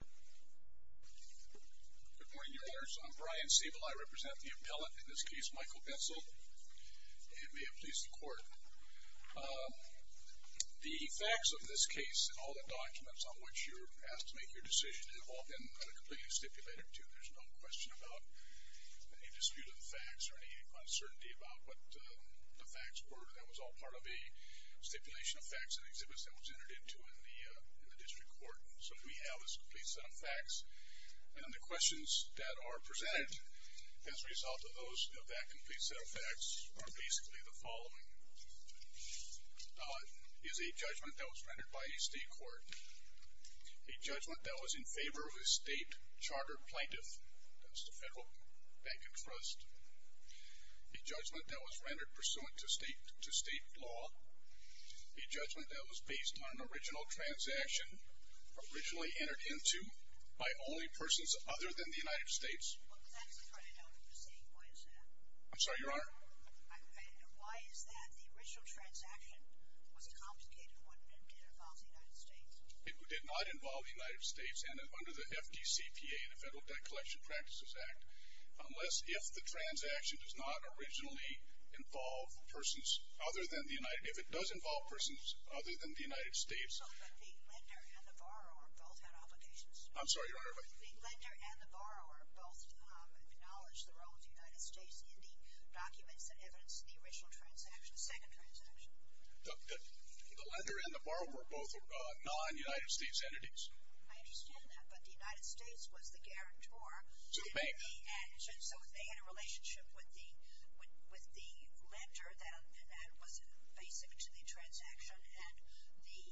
Good morning, your honors. I'm Brian Siebel. I represent the appellate, in this case, Michael Bensal, and may it please the court. The facts of this case and all the documents on which you're asked to make your decision have all been completely stipulated, too. There's no question about any dispute of the facts or any uncertainty about what the facts were. That was all part of a stipulation of facts and exhibits that was entered into in the district court. So what we have is a complete set of facts, and the questions that are presented as a result of that complete set of facts are basically the following. Is a judgment that was rendered by a state court, a judgment that was in favor of a state charter plaintiff, that's the federal bank and trust, a judgment that was rendered pursuant to state law, a judgment that was based on an original transaction originally entered into by only persons other than the United States. Well, that's a credit out of the state. Why is that? I'm sorry, your honor? Why is that? The original transaction was a complicated one and did involve the United States. It did not involve the United States, and under the FDCPA, the Federal Debt Collection Practices Act, unless if the transaction does not originally involve persons other than the United States. If it does involve persons other than the United States. But the lender and the borrower both had obligations. I'm sorry, your honor? The lender and the borrower both acknowledged the role of the United States in the documents that evidence the original transaction, the second transaction. The lender and the borrower were both non-United States entities. I understand that, but the United States was the guarantor. To the bank. So they had a relationship with the lender that was basic to the transaction, and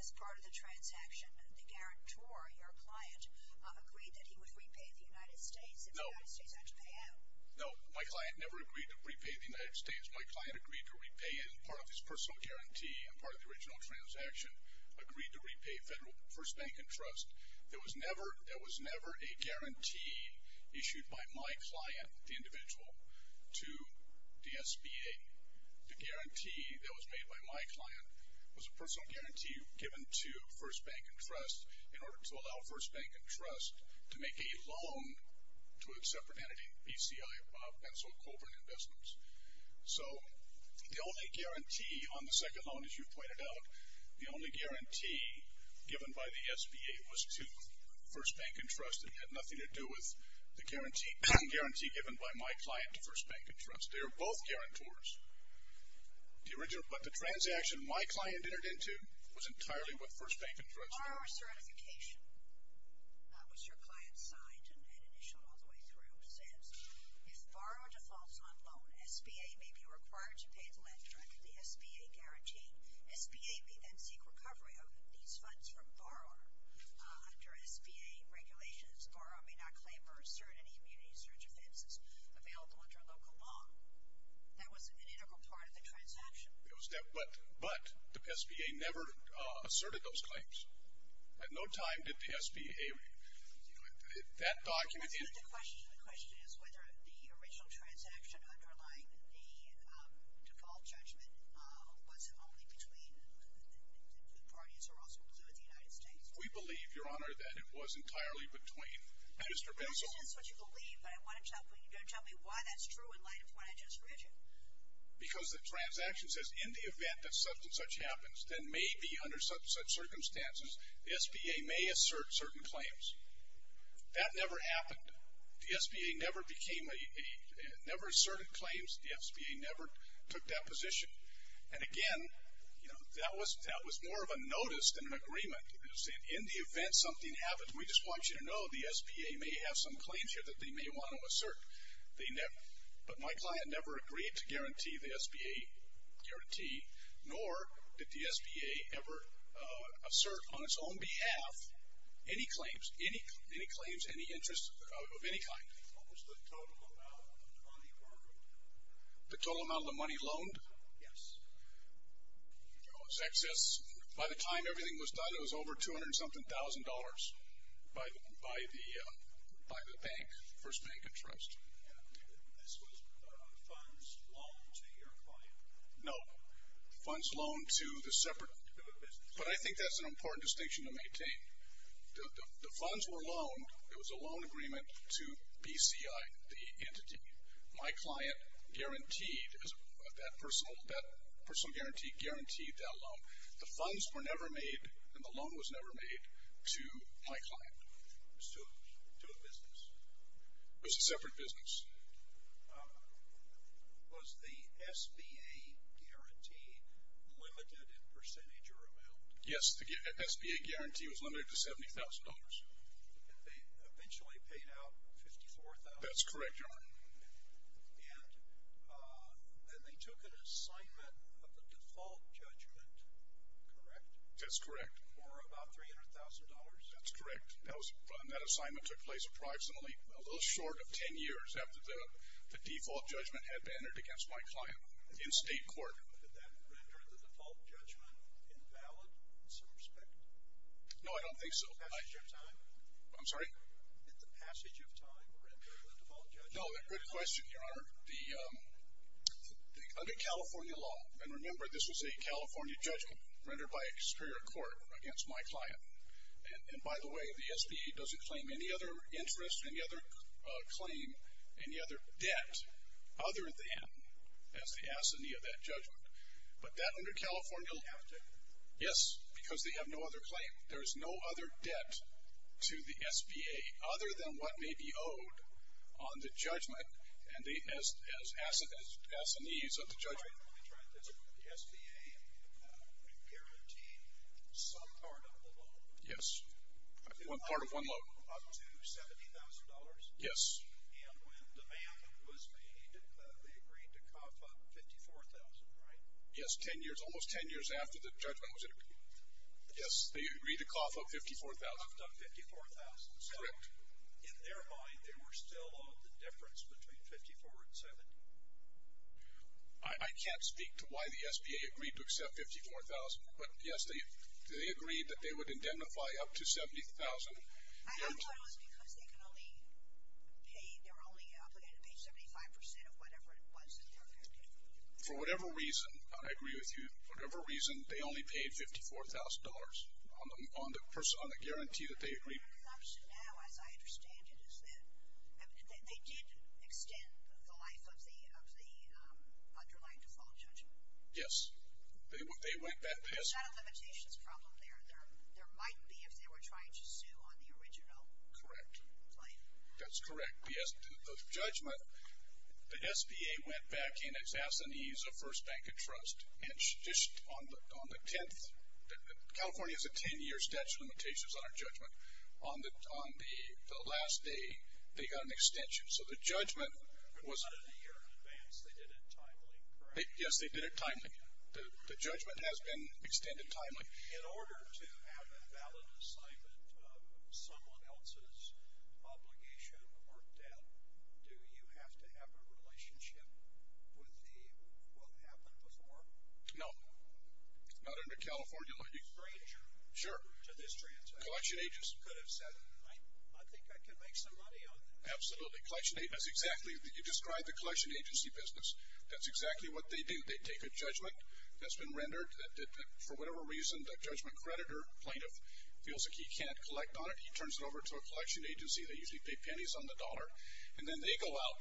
as part of the transaction, the guarantor, your client, agreed that he would repay the United States if the United States had to pay out. No, my client never agreed to repay the United States. My client agreed to repay, and part of his personal guarantee and part of the original transaction agreed to repay First Bank and Trust. There was never a guarantee issued by my client, the individual, to the SBA. The guarantee that was made by my client was a personal guarantee given to First Bank and Trust in order to allow First Bank and Trust to make a loan to a separate entity, BCI, Benzel, Colburn Investments. So the only guarantee on the second loan, as you pointed out, the only guarantee given by the SBA was to First Bank and Trust. It had nothing to do with the guarantee given by my client to First Bank and Trust. They were both guarantors. The original, but the transaction my client entered into was entirely with First Bank and Trust. Borrower certification. That was your client's signed and initialed all the way through. It says, if borrower defaults on loan, SBA may be required to pay the lender under the SBA guarantee. SBA may then seek recovery of these funds from borrower under SBA regulations. A borrower may not claim or assert any immunity search offenses available under local law. That was an integral part of the transaction. But the SBA never asserted those claims. At no time did the SBA, you know, that document. The question is whether the original transaction underlying the default judgment was only between the parties who are also included in the United States. We believe, Your Honor, that it was entirely between Mr. Benson. That's what you believe, but you don't tell me why that's true in light of what I just read you. Because the transaction says, in the event that such and such happens, then maybe under such circumstances the SBA may assert certain claims. That never happened. The SBA never became a, never asserted claims. The SBA never took that position. And, again, you know, that was more of a notice than an agreement. In the event something happens, we just want you to know the SBA may have some claims here that they may want to assert. But my client never agreed to guarantee the SBA guarantee, nor did the SBA ever assert on its own behalf any claims, any claims, any interest of any kind. What was the total amount on the order? The total amount of the money loaned? Yes. It was excess. By the time everything was done, it was over 200-something thousand dollars by the bank, First Bank and Trust. And this was funds loaned to your client? No. Funds loaned to the separate. To the business. But I think that's an important distinction to maintain. The funds were loaned. It was a loan agreement to BCI, the entity. My client guaranteed, that personal guarantee guaranteed that loan. The funds were never made and the loan was never made to my client. To a business? It was a separate business. Was the SBA guarantee limited in percentage or amount? Yes, the SBA guarantee was limited to $70,000. And they eventually paid out $54,000? That's correct, Your Honor. And they took an assignment of the default judgment, correct? That's correct. For about $300,000? That's correct. And that assignment took place approximately a little short of 10 years after the default judgment had been entered against my client in state court. Did that render the default judgment invalid in some respect? No, I don't think so. Passage of time? I'm sorry? Did the passage of time render the default judgment invalid? No, good question, Your Honor. Under California law, and remember this was a California judgment rendered by a superior court against my client. And by the way, the SBA doesn't claim any other interest, any other claim, any other debt other than as the assignee of that judgment. But that under California law. They have to? Yes, because they have no other claim. There is no other debt to the SBA other than what may be owed on the judgment as assignees of the judgment. The SBA guaranteed some part of the loan? Yes, one part of one loan. Up to $70,000? Yes. And when the ban was made, they agreed to cough up $54,000, right? Yes, 10 years, almost 10 years after the judgment was entered. Yes, they agreed to cough up $54,000. Coughed up $54,000. Correct. So in their mind, they were still owed the difference between $54,000 and $70,000? I can't speak to why the SBA agreed to accept $54,000. But, yes, they agreed that they would indemnify up to $70,000. I don't know if it was because they were only obligated to pay 75% of whatever it was that they were guaranteed. For whatever reason, I agree with you. For whatever reason, they only paid $54,000 on the guarantee that they agreed. My assumption now, as I understand it, is that they did extend the life of the underlying default judgment. Yes, they went back. There's not a limitations problem there. There might be if they were trying to sue on the original claim. Correct. That's correct. The judgment, the SBA went back and asked them to use a first bank of trust. And just on the 10th, California has a 10-year statute of limitations on our judgment. On the last day, they got an extension. So the judgment was... Not a year in advance. They did it timely, correct? Yes, they did it timely. The judgment has been extended timely. In order to have a valid assignment of someone else's obligation or debt, do you have to have a relationship with what happened before? No, not under California law. A stranger. Sure. To this transaction. Collection agents. Could have said, I think I can make some money on this. Absolutely. Collection agents, exactly. You described the collection agency business. That's exactly what they do. They take a judgment that's been rendered that for whatever reason, the judgment creditor plaintiff feels like he can't collect on it. He turns it over to a collection agency. They usually pay pennies on the dollar. And then they go out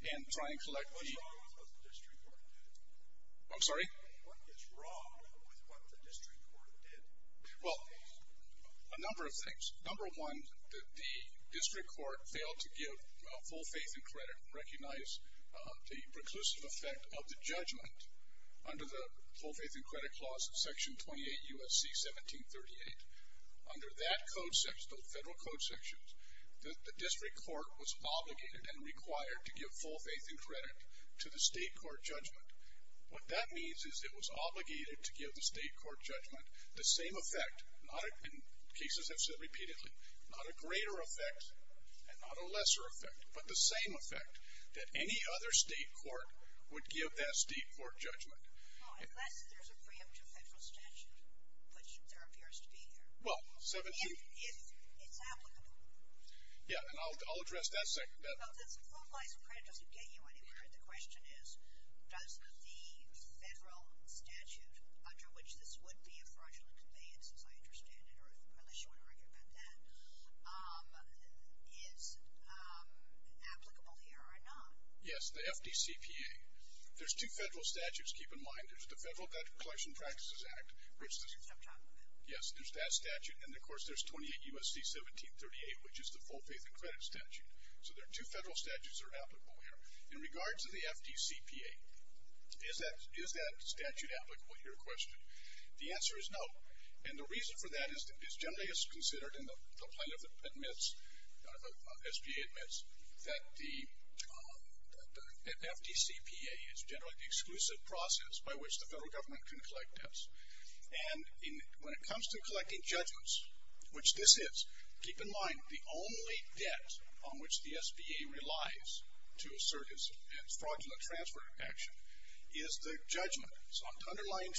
and try and collect the... What's wrong with what the district court did? I'm sorry? What is wrong with what the district court did? Well, a number of things. Number one, the district court failed to give full faith and credit, recognize the preclusive effect of the judgment under the full faith and credit clause of Section 28 U.S.C. 1738. Under that code section, those federal code sections, the district court was obligated and required to give full faith and credit to the state court judgment. What that means is it was obligated to give the state court judgment the same effect, and cases have said repeatedly, not a greater effect and not a lesser effect, but the same effect that any other state court would give that state court judgment. Unless there's a preemptive federal statute, which there appears to be here. Well, 17... If it's applicable. Yeah, and I'll address that. Well, the full faith and credit doesn't get you anywhere. The question is, does the federal statute under which this would be a fraudulent conveyance, as I understand it, or unless you want to argue about that, is applicable here or not? Yes, the FDCPA. There's two federal statutes, keep in mind. There's the Federal Debt Collection Practices Act. Yes, there's that statute. And, of course, there's 28 U.S.C. 1738, which is the full faith and credit statute. So there are two federal statutes that are applicable here. In regards to the FDCPA, is that statute applicable, your question? The answer is no. And the reason for that is generally it's considered, and the plaintiff admits, SBA admits, that the FDCPA is generally the exclusive process by which the federal government can collect debts. And when it comes to collecting judgments, which this is, keep in mind, the only debt on which the SBA relies to assert its fraudulent transfer action is the judgment. So Brody's case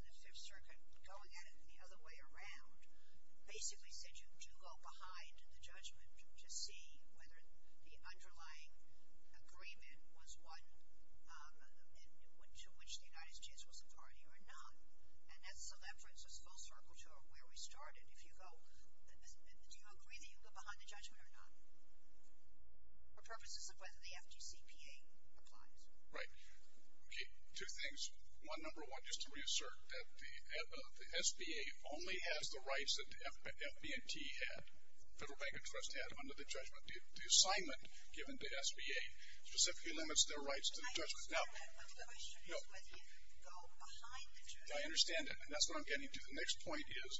in the Fifth Circuit, going at it the other way around, basically said you do go behind the judgment to see whether the underlying agreement was one to which the United States was a party or not. And so that brings us full circle to where we started. If you go, do you agree that you go behind the judgment or not, for purposes of whether the FDCPA applies? Right. Okay. Two things. One, number one, just to reassert, that the SBA only has the rights that the FD&T had, Federal Bank of Trust had under the judgment. The assignment given to SBA specifically limits their rights to the judgment. My question is whether you go behind the judgment. I understand that, and that's what I'm getting to. The next point is,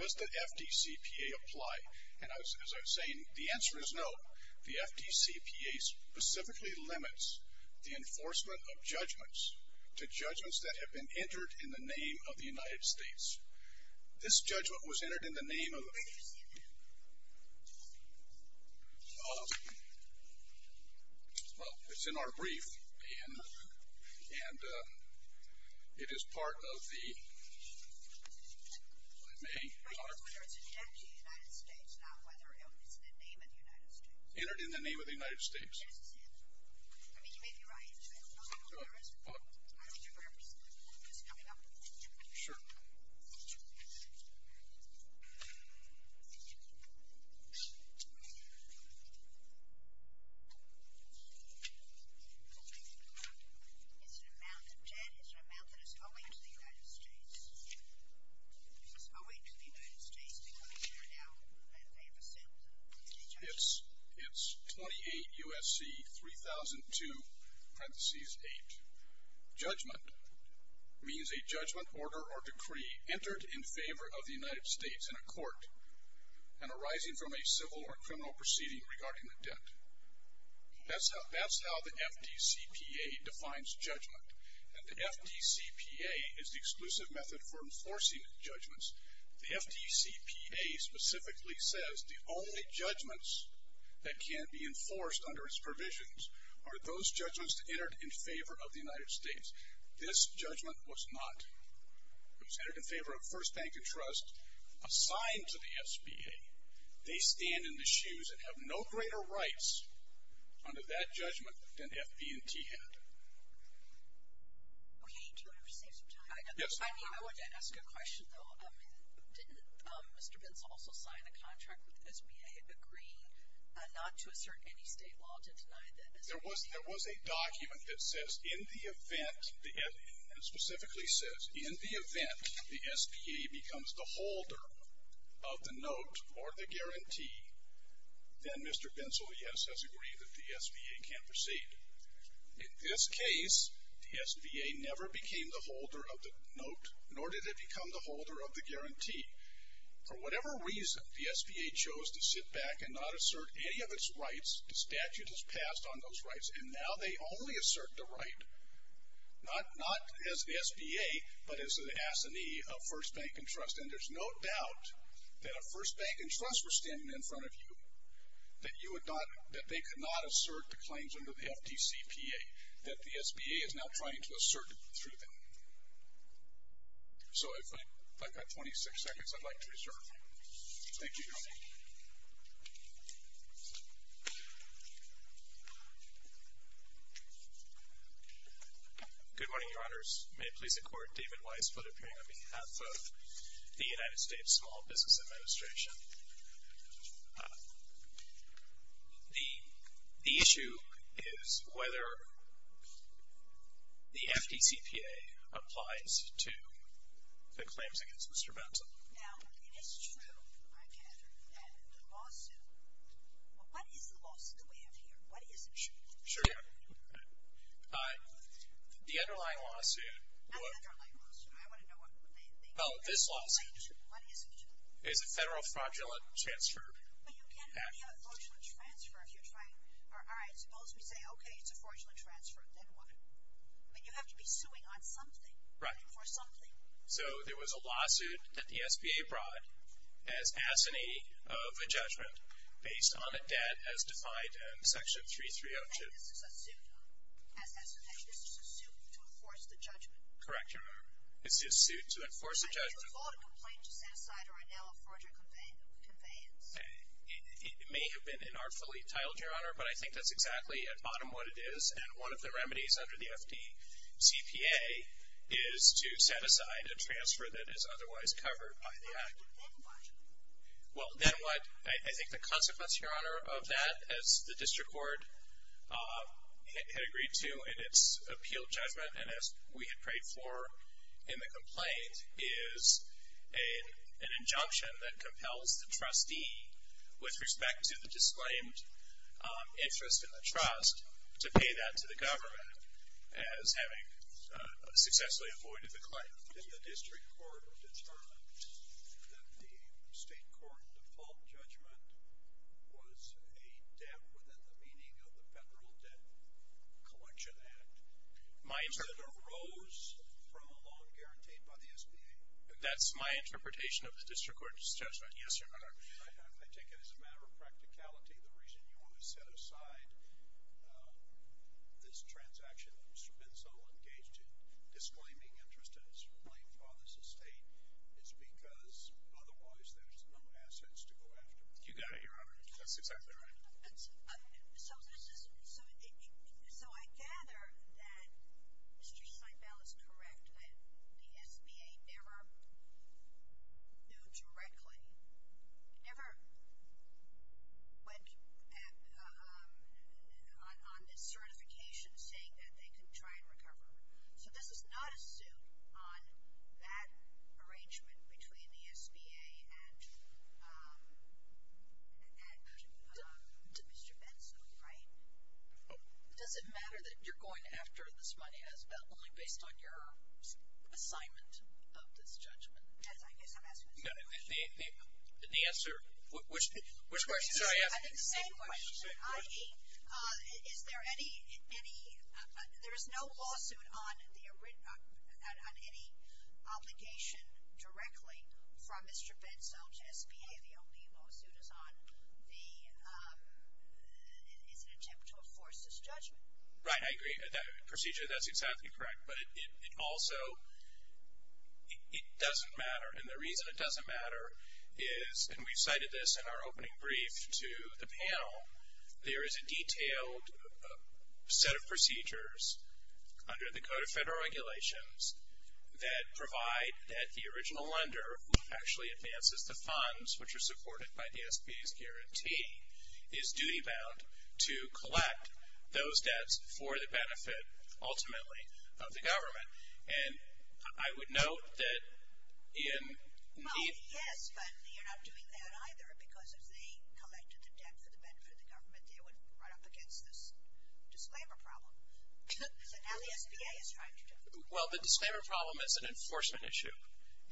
does the FDCPA apply? And as I was saying, the answer is no. The FDCPA specifically limits the enforcement of judgments to judgments that have been entered in the name of the United States. This judgment was entered in the name of the ---- Where did you see it? Well, it's in our brief, and it is part of the ---- The question is whether it's a debt to the United States, not whether it's in the name of the United States. Entered in the name of the United States. Yes, it is. I mean, you may be right. I don't know if there is. I don't remember. I'm just coming up with it. Sure. It's an amount of debt. It's an amount that is owing to the United States. It's owing to the United States because they are now in favor of a sentence. It's 28 U.S.C. 3002, parenthesis 8. Judgment means a judgment, order, or decree entered in favor of the United States in a court and arising from a civil or criminal proceeding regarding a debt. That's how the FDCPA defines judgment. And the FDCPA is the exclusive method for enforcing judgments. The FDCPA specifically says the only judgments that can be enforced under its provisions are those judgments entered in favor of the United States. This judgment was not. It was entered in favor of First Bank and Trust, assigned to the SBA. They stand in the shoes and have no greater rights under that judgment than FB&T had. Okay. Do you want to save some time? Yes. I mean, I wanted to ask a question, though. Didn't Mr. Binzel also sign a contract with the SBA agreeing not to assert any state law to deny the SBA? There was a document that says, in the event, and it specifically says, in the event the SBA becomes the holder of the note or the guarantee, then Mr. Binzel, yes, has agreed that the SBA can proceed. In this case, the SBA never became the holder of the note, nor did it become the holder of the guarantee. For whatever reason, the SBA chose to sit back and not assert any of its rights. The statute has passed on those rights. And now they only assert the right, not as the SBA, but as an assignee of First Bank and Trust. And there's no doubt that if First Bank and Trust were standing in front of you, that they could not assert the claims under the FDCPA that the SBA is now trying to assert through them. So if I've got 26 seconds, I'd like to reserve. Thank you, Your Honor. Good morning, Your Honors. May it please the Court, David Weiss, foot of hearing on behalf of the United States Small Business Administration. The issue is whether the FDCPA applies to the claims against Mr. Binzel. Now, it is true, I gather, that the lawsuit, well, what is the lawsuit that we have here? What is it? Sure, Your Honor. The underlying lawsuit, well, this lawsuit is a federal fraudulent transfer act. But you can't have a fraudulent transfer if you're trying, all right, suppose we say, okay, it's a fraudulent transfer. Then what? But you have to be suing on something. Right. For something. So there was a lawsuit that the SBA brought as assignee of a judgment based on a debt as defined in Section 3302. This is a suit to enforce the judgment. Correct, Your Honor. This is a suit to enforce a judgment. It may have been inartfully titled, Your Honor, but I think that's exactly at bottom what it is. And one of the remedies under the FDCPA is to set aside a transfer that is otherwise covered by the act. Well, then what? I think the consequence, Your Honor, of that, as the district court had agreed to in its appeal judgment and as we had prayed for in the complaint, is an injunction that compels the trustee with respect to the disclaimed interest in the trust to pay that to the government as having successfully avoided the claim. Did the district court determine that the state court default judgment was a debt within the meaning of the Federal Debt Collection Act? My interpretation. Is that it arose from a loan guaranteed by the SBA? That's my interpretation of the district court's judgment, yes, Your Honor. I take it as a matter of practicality, the reason you want to set aside this transaction that has been so engaged in disclaiming interest in its claim for this estate is because otherwise there's no assets to go after. You got it, Your Honor. That's exactly right. So I gather that Mr. Seibel is correct that the SBA never knew directly, never went on this certification saying that they could try and recover. So this is not a suit on that arrangement between the SBA and Mr. Bensko, right? Does it matter that you're going after this money as debt only based on your assignment of this judgment? Yes, I guess I'm asking the same question. The answer, which question? I think the same question, i.e., is there any, there is no lawsuit on any obligation directly from Mr. Bensko to SBA. The only lawsuit is on the attempt to enforce this judgment. Right, I agree. That procedure, that's exactly correct. But it also, it doesn't matter. And the reason it doesn't matter is, and we've cited this in our opening brief to the panel, there is a detailed set of procedures under the Code of Federal Regulations that provide that the original lender actually advances the funds, which are supported by the SBA's guarantee, is duty-bound to collect those debts for the benefit, ultimately, of the government. And I would note that in the- Well, yes, but you're not doing that either, because if they collected the debt for the benefit of the government, they would run up against this disclaimer problem. So now the SBA is trying to do it. Well, the disclaimer problem is an enforcement issue.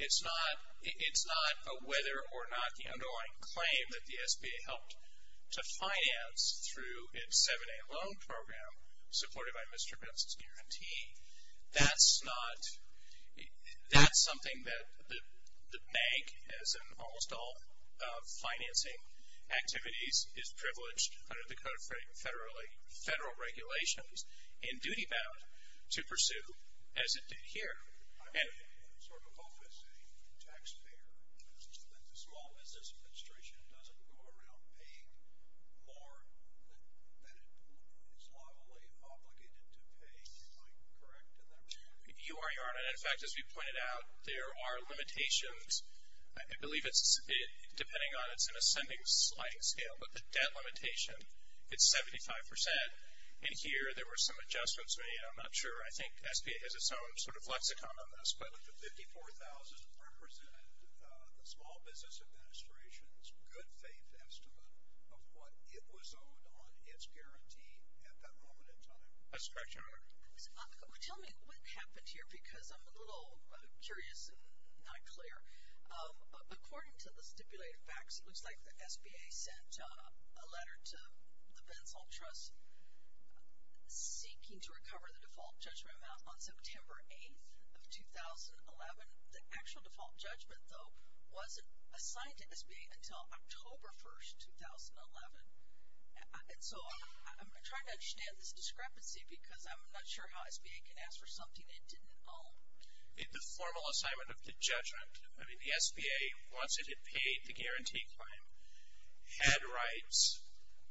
It's not a whether or not the underlying claim that the SBA helped to finance through its 7A loan program supported by Mr. Bensko's guarantee. That's something that the bank, as in almost all financing activities, is privileged under the Code of Federal Regulations, in duty-bound, to pursue as it did here. I would sort of hope, as a taxpayer, that the Small Business Administration doesn't go around paying more than it is legally obligated to pay. Am I correct in that? You are, Your Honor. In fact, as we pointed out, there are limitations. I believe it's, depending on, it's an ascending sliding scale, but the debt limitation, it's 75%. And here there were some adjustments made. I'm not sure. I think SBA has its own sort of lexicon on this, but the $54,000 represented the Small Business Administration's good-faith estimate of what it was owed on its guarantee at that moment in time. That's correct, Your Honor. Tell me what happened here because I'm a little curious and not clear. According to the stipulated facts, it looks like the SBA sent a letter to the Bensal Trust seeking to recover the default judgment amount on September 8th of 2011. The actual default judgment, though, wasn't assigned to SBA until October 1st, 2011. And so I'm trying to understand this discrepancy because I'm not sure how SBA can ask for something it didn't owe. The formal assignment of the judgment, I mean, the SBA, once it had paid the guarantee claim, had rights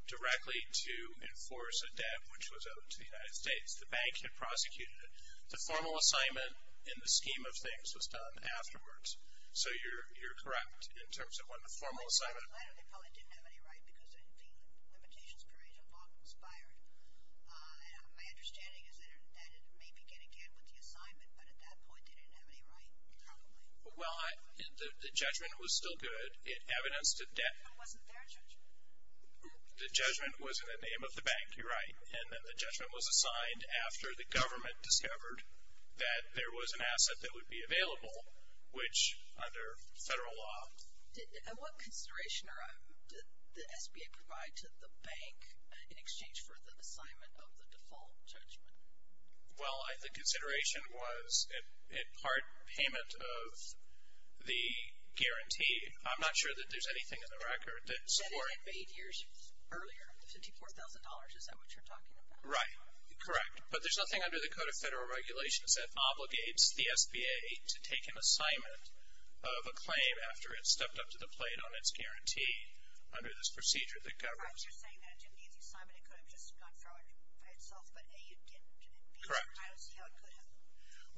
directly to enforce a debt, which was owed to the United States. The bank had prosecuted it. The formal assignment in the scheme of things was done afterwards. So you're correct in terms of what the formal assignment was. Well, they probably didn't have any right because the Limitations Appraisal Law expired. My understanding is that it may begin again with the assignment, but at that point they didn't have any right probably. Well, the judgment was still good. It evidenced a debt. But it wasn't their judgment. The judgment was in the name of the bank. You're right. And then the judgment was assigned after the government discovered that there was an asset that would be available, which under federal law. And what consideration did the SBA provide to the bank in exchange for the assignment of the default judgment? Well, I think consideration was in part payment of the guarantee. I'm not sure that there's anything in the record that supports that. You said it had paid years earlier, the $54,000. Is that what you're talking about? Right. Correct. But there's nothing under the Code of Federal Regulations that obligates the SBA to take an assignment of a claim after it stepped up to the plate on its guarantee under this procedure that governs it. I was just saying that it didn't need the assignment. It could have just gone forward by itself. But A, it didn't. Correct. I don't see how it could have.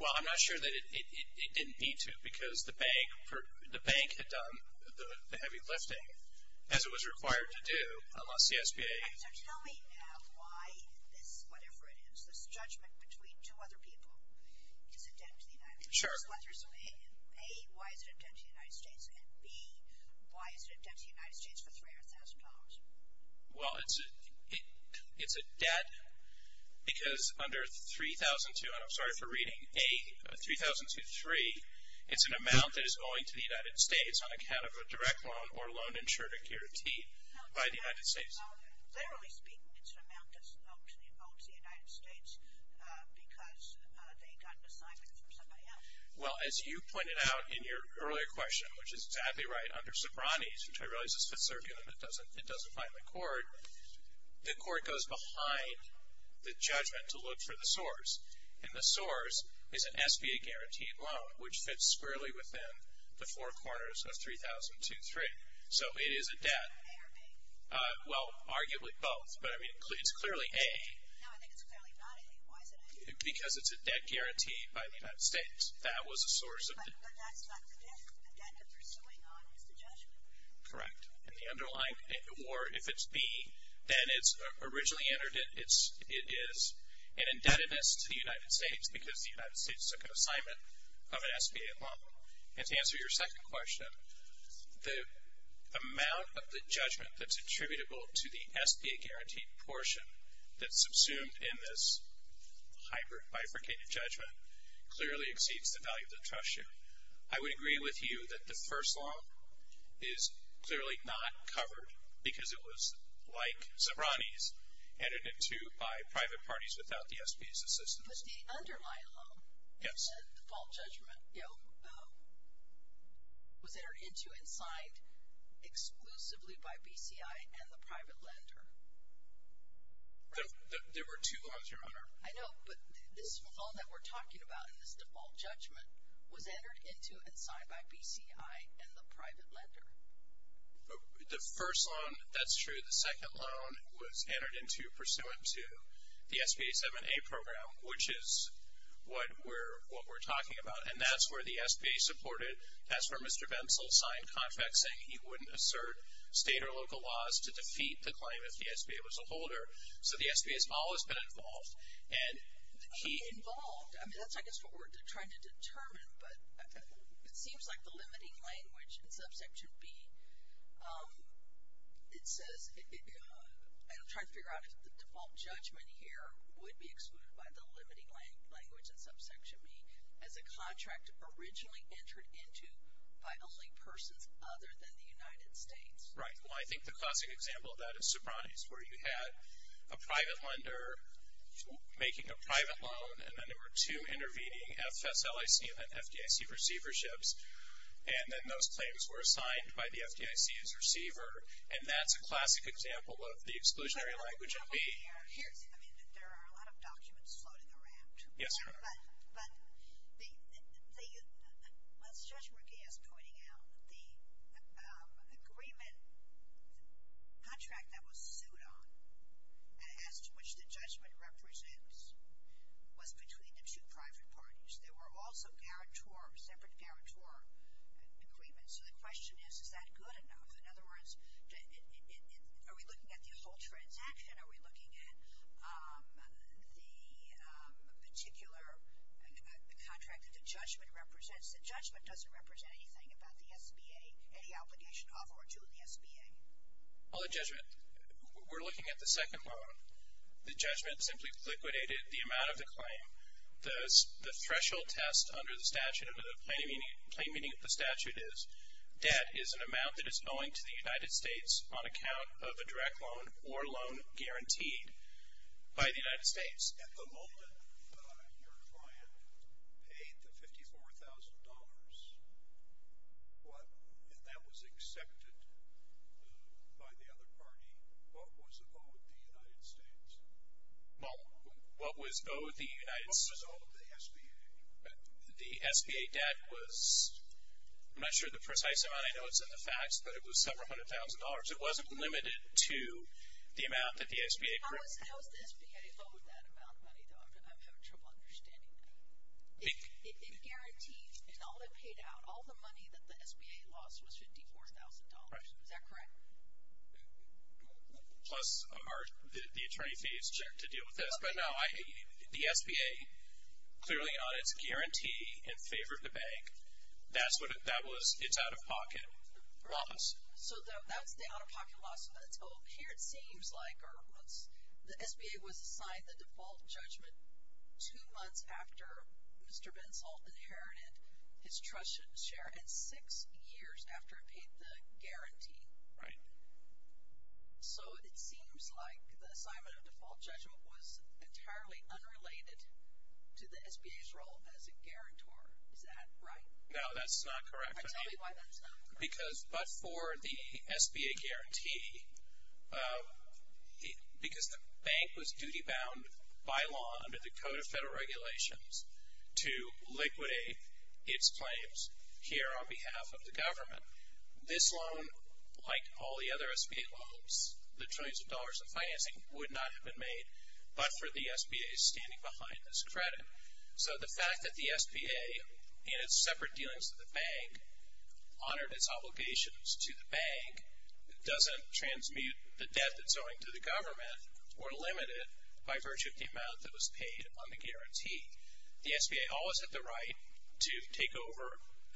Well, I'm not sure that it didn't need to because the bank had done the heavy lifting as it was required to do unless the SBA. So tell me now why this, whatever it is, this judgment between two other people is a debt to the United States. Sure. A, why is it a debt to the United States? And B, why is it a debt to the United States for $300,000? Well, it's a debt because under 3002, and I'm sorry for reading, A, 3002.3, it's an amount that is owing to the United States on account of a direct loan or loan insured or guaranteed by the United States. No, literally speaking, it's an amount that's owed to the United States because they got an assignment from somebody else. Well, as you pointed out in your earlier question, which is exactly right, under Sobranes, which I realize is Fifth Circuit and it doesn't bind the court, the court goes behind the judgment to look for the source, and the source is an SBA-guaranteed loan, which fits squarely within the four corners of 3002.3. So it is a debt. A or B? Well, arguably both, but it's clearly A. No, I think it's clearly not A. Why is it A? Because it's a debt guaranteed by the United States. That was a source of the debt. But that's not the debt. The debt they're pursuing on is the judgment. Correct. And the underlying, or if it's B, then it's originally entered, it is an indebtedness to the United States because the United States took an assignment of an SBA loan. And to answer your second question, the amount of the judgment that's attributable to the SBA-guaranteed portion that's subsumed in this hybrid bifurcated judgment clearly exceeds the value of the trust sheet. I would agree with you that the first law is clearly not covered because it was, like Zabrani's, entered into by private parties without the SBA's assistance. But the underlying loan, the default judgment, you know, was entered into and signed exclusively by BCI and the private lender. There were two loans, Your Honor. I know, but this loan that we're talking about in this default judgment was entered into and signed by BCI and the private lender. The first loan, that's true. The second loan was entered into pursuant to the SBA 7A program, which is what we're talking about. And that's where the SBA supported. That's where Mr. Bensel signed contracts saying he wouldn't assert state or local laws to defeat the claim if the SBA was a holder. So the SBA has always been involved. And he- Involved? I mean, that's, I guess, what we're trying to determine. But it seems like the limiting language in Subsection B, it says, and I'm trying to figure out if the default judgment here would be excluded by the limiting language in Subsection B, as a contract originally entered into by only persons other than the United States. Right. Well, I think the classic example of that is Sopranos, where you had a private lender making a private loan, and then there were two intervening FSLIC and FDIC receiverships. And then those claims were signed by the FDIC's receiver. And that's a classic example of the exclusionary language in B. I mean, there are a lot of documents floating around. Yes, there are. But as Judge McGee has pointed out, the agreement contract that was sued on, as to which the judgment represents, was between the two private parties. There were also separate guarantor agreements. So the question is, is that good enough? In other words, are we looking at the whole transaction? Are we looking at the particular contract that the judgment represents? The judgment doesn't represent anything about the SBA, any obligation of or to the SBA. Well, the judgment, we're looking at the second loan. The judgment simply liquidated the amount of the claim. The threshold test under the statute, under the plain meaning of the statute, is debt is an amount that is owing to the United States on account of a direct loan or loan guaranteed by the United States. At the moment, your client paid the $54,000. If that was accepted by the other party, what was owed the United States? Well, what was owed the United States? What was owed the SBA? The SBA debt was, I'm not sure the precise amount. I know it's in the facts, but it was several hundred thousand dollars. It wasn't limited to the amount that the SBA. How was the SBA owed that amount of money, though? I'm having trouble understanding that. It guaranteed, in all it paid out, all the money that the SBA lost was $54,000. Is that correct? Plus the attorney fees to deal with this. The SBA, clearly on its guarantee in favor of the bank, that was its out-of-pocket loss. So that's the out-of-pocket loss. Here it seems like the SBA was assigned the default judgment two months after Mr. Bensal inherited his trust share and six years after it paid the guarantee. Right. So it seems like the assignment of default judgment was entirely unrelated to the SBA's role as a guarantor. Is that right? No, that's not correct. Tell me why that's not correct. Because, but for the SBA guarantee, because the bank was duty-bound by law under the Code of Federal Regulations to liquidate its claims here on behalf of the government, this loan, like all the other SBA loans, the trillions of dollars in financing, would not have been made but for the SBA standing behind this credit. So the fact that the SBA, in its separate dealings with the bank, honored its obligations to the bank doesn't transmute the debt that's owing to the government or limit it by virtue of the amount that was paid on the guarantee. The SBA always had the right to take over.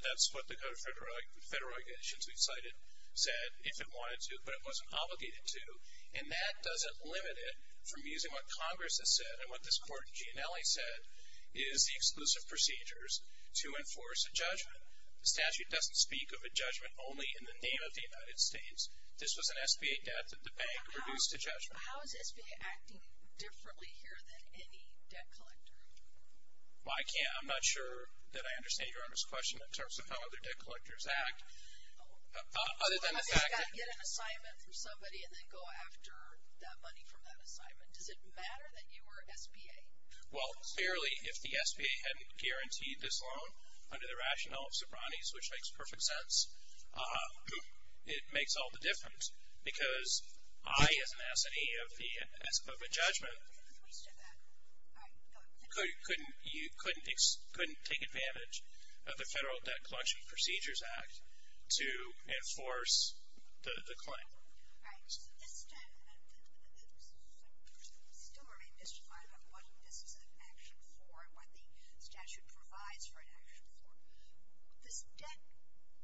That's what the Code of Federal Regulations we've cited said, if it wanted to, but it wasn't obligated to. And that doesn't limit it from using what Congress has said and what this Court in Gianelli said is the exclusive procedures to enforce a judgment. The statute doesn't speak of a judgment only in the name of the United States. This was an SBA debt that the bank produced a judgment. How is SBA acting differently here than any debt collector? Well, I can't, I'm not sure that I understand your honest question in terms of how other debt collectors act. So I've got to get an assignment from somebody and then go after that money from that assignment. Does it matter that you were SBA? Well, clearly, if the SBA hadn't guaranteed this loan under the rationale of Sobranes, which makes perfect sense, it makes all the difference. Because I, as an S&E of a judgment, couldn't take advantage of the Federal Debt Collection Procedures Act to enforce the claim. All right. So this still remains mystified about what this is an action for and what the statute provides for an action for. This debt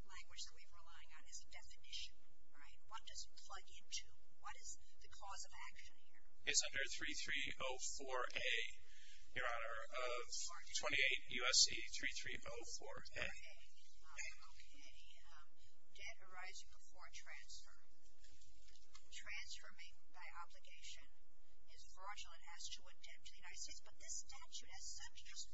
language that we're relying on is a definition, right? What does it plug into? What is the cause of action here? It's under 3304A, Your Honor, of 28 U.S.C. 3304A. Okay. Okay. Debt arising before a transfer. Transfer made by obligation is fraudulent as to a debt to the United States, but this statute, as such, just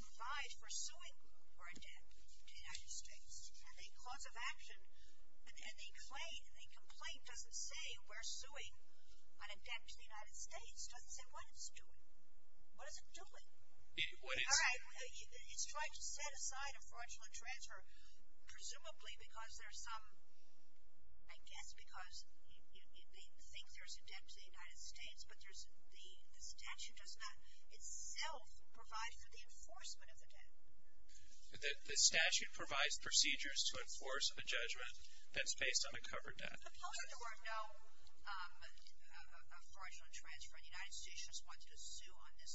provides for suing for a debt to the United States. And the cause of action and the complaint doesn't say we're suing on a debt to the United States. It doesn't say what it's doing. What is it doing? All right. It's trying to set aside a fraudulent transfer presumably because there's some, I guess, because they think there's a debt to the United States, but the statute does not itself provide for the enforcement of the debt. The statute provides procedures to enforce a judgment that's based on a covered debt. Suppose there were no fraudulent transfer and the United States just wanted to sue on this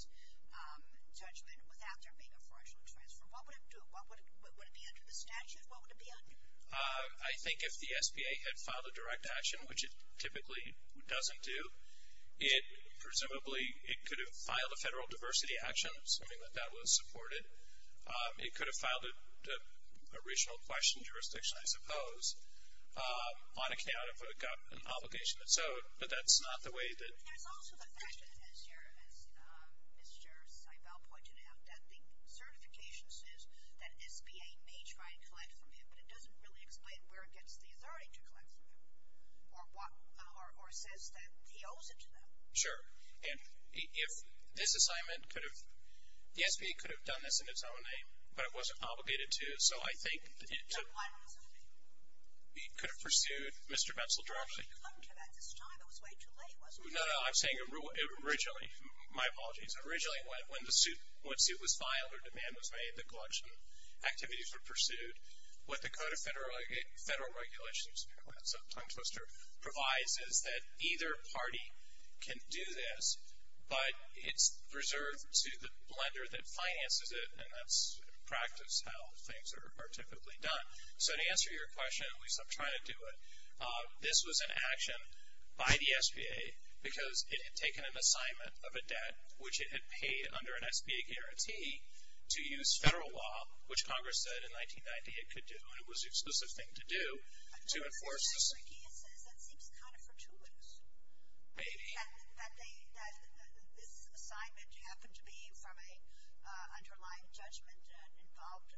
judgment without there being a fraudulent transfer. What would it do? Would it be under the statute? What would it be under? I think if the SBA had filed a direct action, which it typically doesn't do, it presumably could have filed a federal diversity action, assuming that that was supported. It could have filed a regional question jurisdiction, I suppose, on account of an obligation that's owed. But that's not the way that... There's also the fact that, as Mr. Seibel pointed out, that the certification says that SBA may try and collect from him, but it doesn't really explain where it gets the authority to collect from him or says that he owes it to them. Sure. And if this assignment could have... The SBA could have done this in its own name, but it wasn't obligated to. So I think... So why not assume it? It could have pursued Mr. Metzl directly. You could have come to him at this time. It was way too late, wasn't it? No, no. I'm saying originally. My apologies. Originally, when the suit was filed or demand was made, the collection activities were pursued. What the Code of Federal Regulations provides is that either party can do this, but it's reserved to the lender that finances it, and that's in practice how things are typically done. So to answer your question, at least I'm trying to do it, this was an action by the SBA because it had taken an assignment of a debt, which it had paid under an SBA guarantee, to use federal law, which Congress said in 1990 it could do, and it was the exclusive thing to do, to enforce the... So what you're saying, Ricky, is that seems kind of fortuitous. Maybe. That this assignment happened to be from an underlying judgment involved,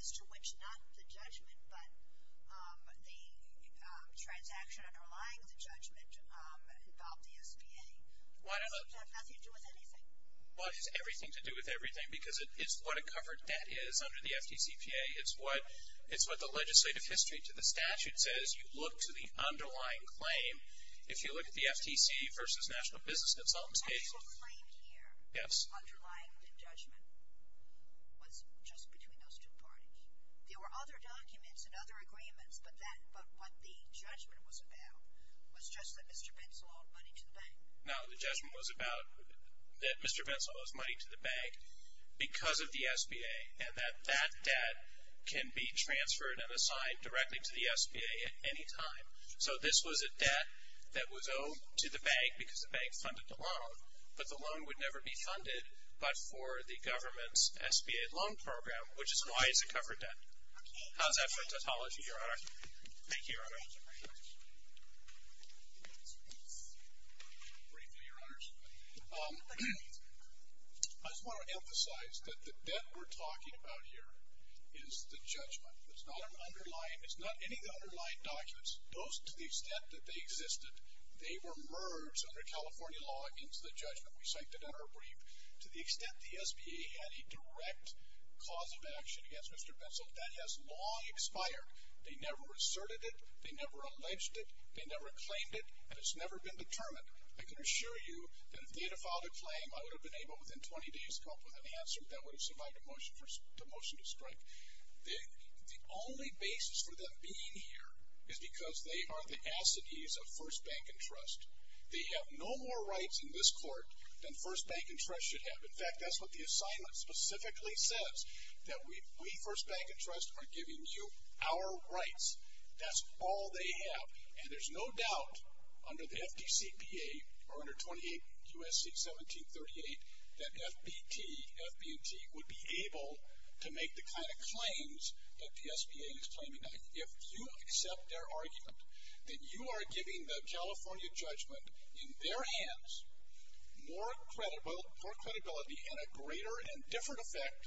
as to which not the judgment but the transaction underlying the judgment involved the SBA. That has nothing to do with anything. Well, it has everything to do with everything because it's what a covered debt is under the FTCPA. It's what the legislative history to the statute says. You look to the underlying claim. If you look at the FTC versus National Business Consultants case... The claim here. Yes. The underlying judgment was just between those two parties. There were other documents and other agreements, but what the judgment was about was just that Mr. Pencil owed money to the bank. No, the judgment was about that Mr. Pencil owes money to the bank because of the SBA and that that debt can be transferred and assigned directly to the SBA at any time. So this was a debt that was owed to the bank because the bank funded the loan, but the loan would never be funded but for the government's SBA loan program, which is why it's a covered debt. How's that for tautology, Your Honor? Thank you, Your Honor. Briefly, Your Honors. I just want to emphasize that the debt we're talking about here is the judgment. It's not an underlying... It's not any of the underlying documents. Those, to the extent that they existed, they were merged under California law into the judgment. We cite the debtor brief. To the extent the SBA had a direct cause of action against Mr. Pencil, that has long expired. They never asserted it. They never alleged it. They never claimed it, and it's never been determined. I can assure you that if they had filed a claim, I would have been able, within 20 days, to come up with an answer that would have survived the motion to strike. The only basis for them being here is because they are the assidues of First Bank and Trust. They have no more rights in this court than First Bank and Trust should have. In fact, that's what the assignment specifically says, that we, First Bank and Trust, are giving you our rights. That's all they have. And there's no doubt under the FDCPA, or under 28 U.S.C. 1738, that FBT, FBNT, would be able to make the kind of claims that the SBA is claiming now. If you accept their argument, then you are giving the California judgment in their hands more credibility and a greater and different effect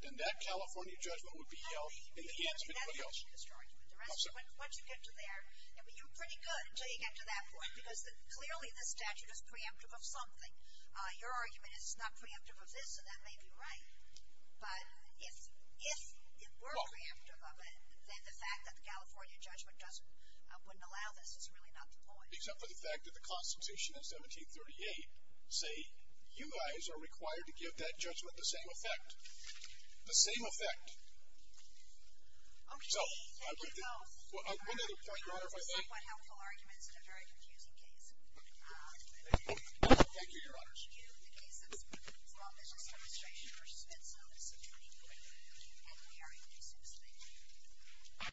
than that California judgment would be held in the hands of anybody else. I mean, that's a huge argument. Once you get to there, you're pretty good until you get to that point, because clearly this statute is preemptive of something. Your argument is it's not preemptive of this, and that may be right, but if it were preemptive of it, then the fact that the California judgment wouldn't allow this is really not the point. Except for the fact that the Constitution in 1738 say, you guys are required to give that judgment the same effect. The same effect. Okay, thank you both. I think that was a somewhat helpful argument in a very confusing case. Thank you. Thank you, Your Honors. Thank you. In the case of Small Business Administration v. FedZone, it's a pretty good argument, and we are able to substantiate it.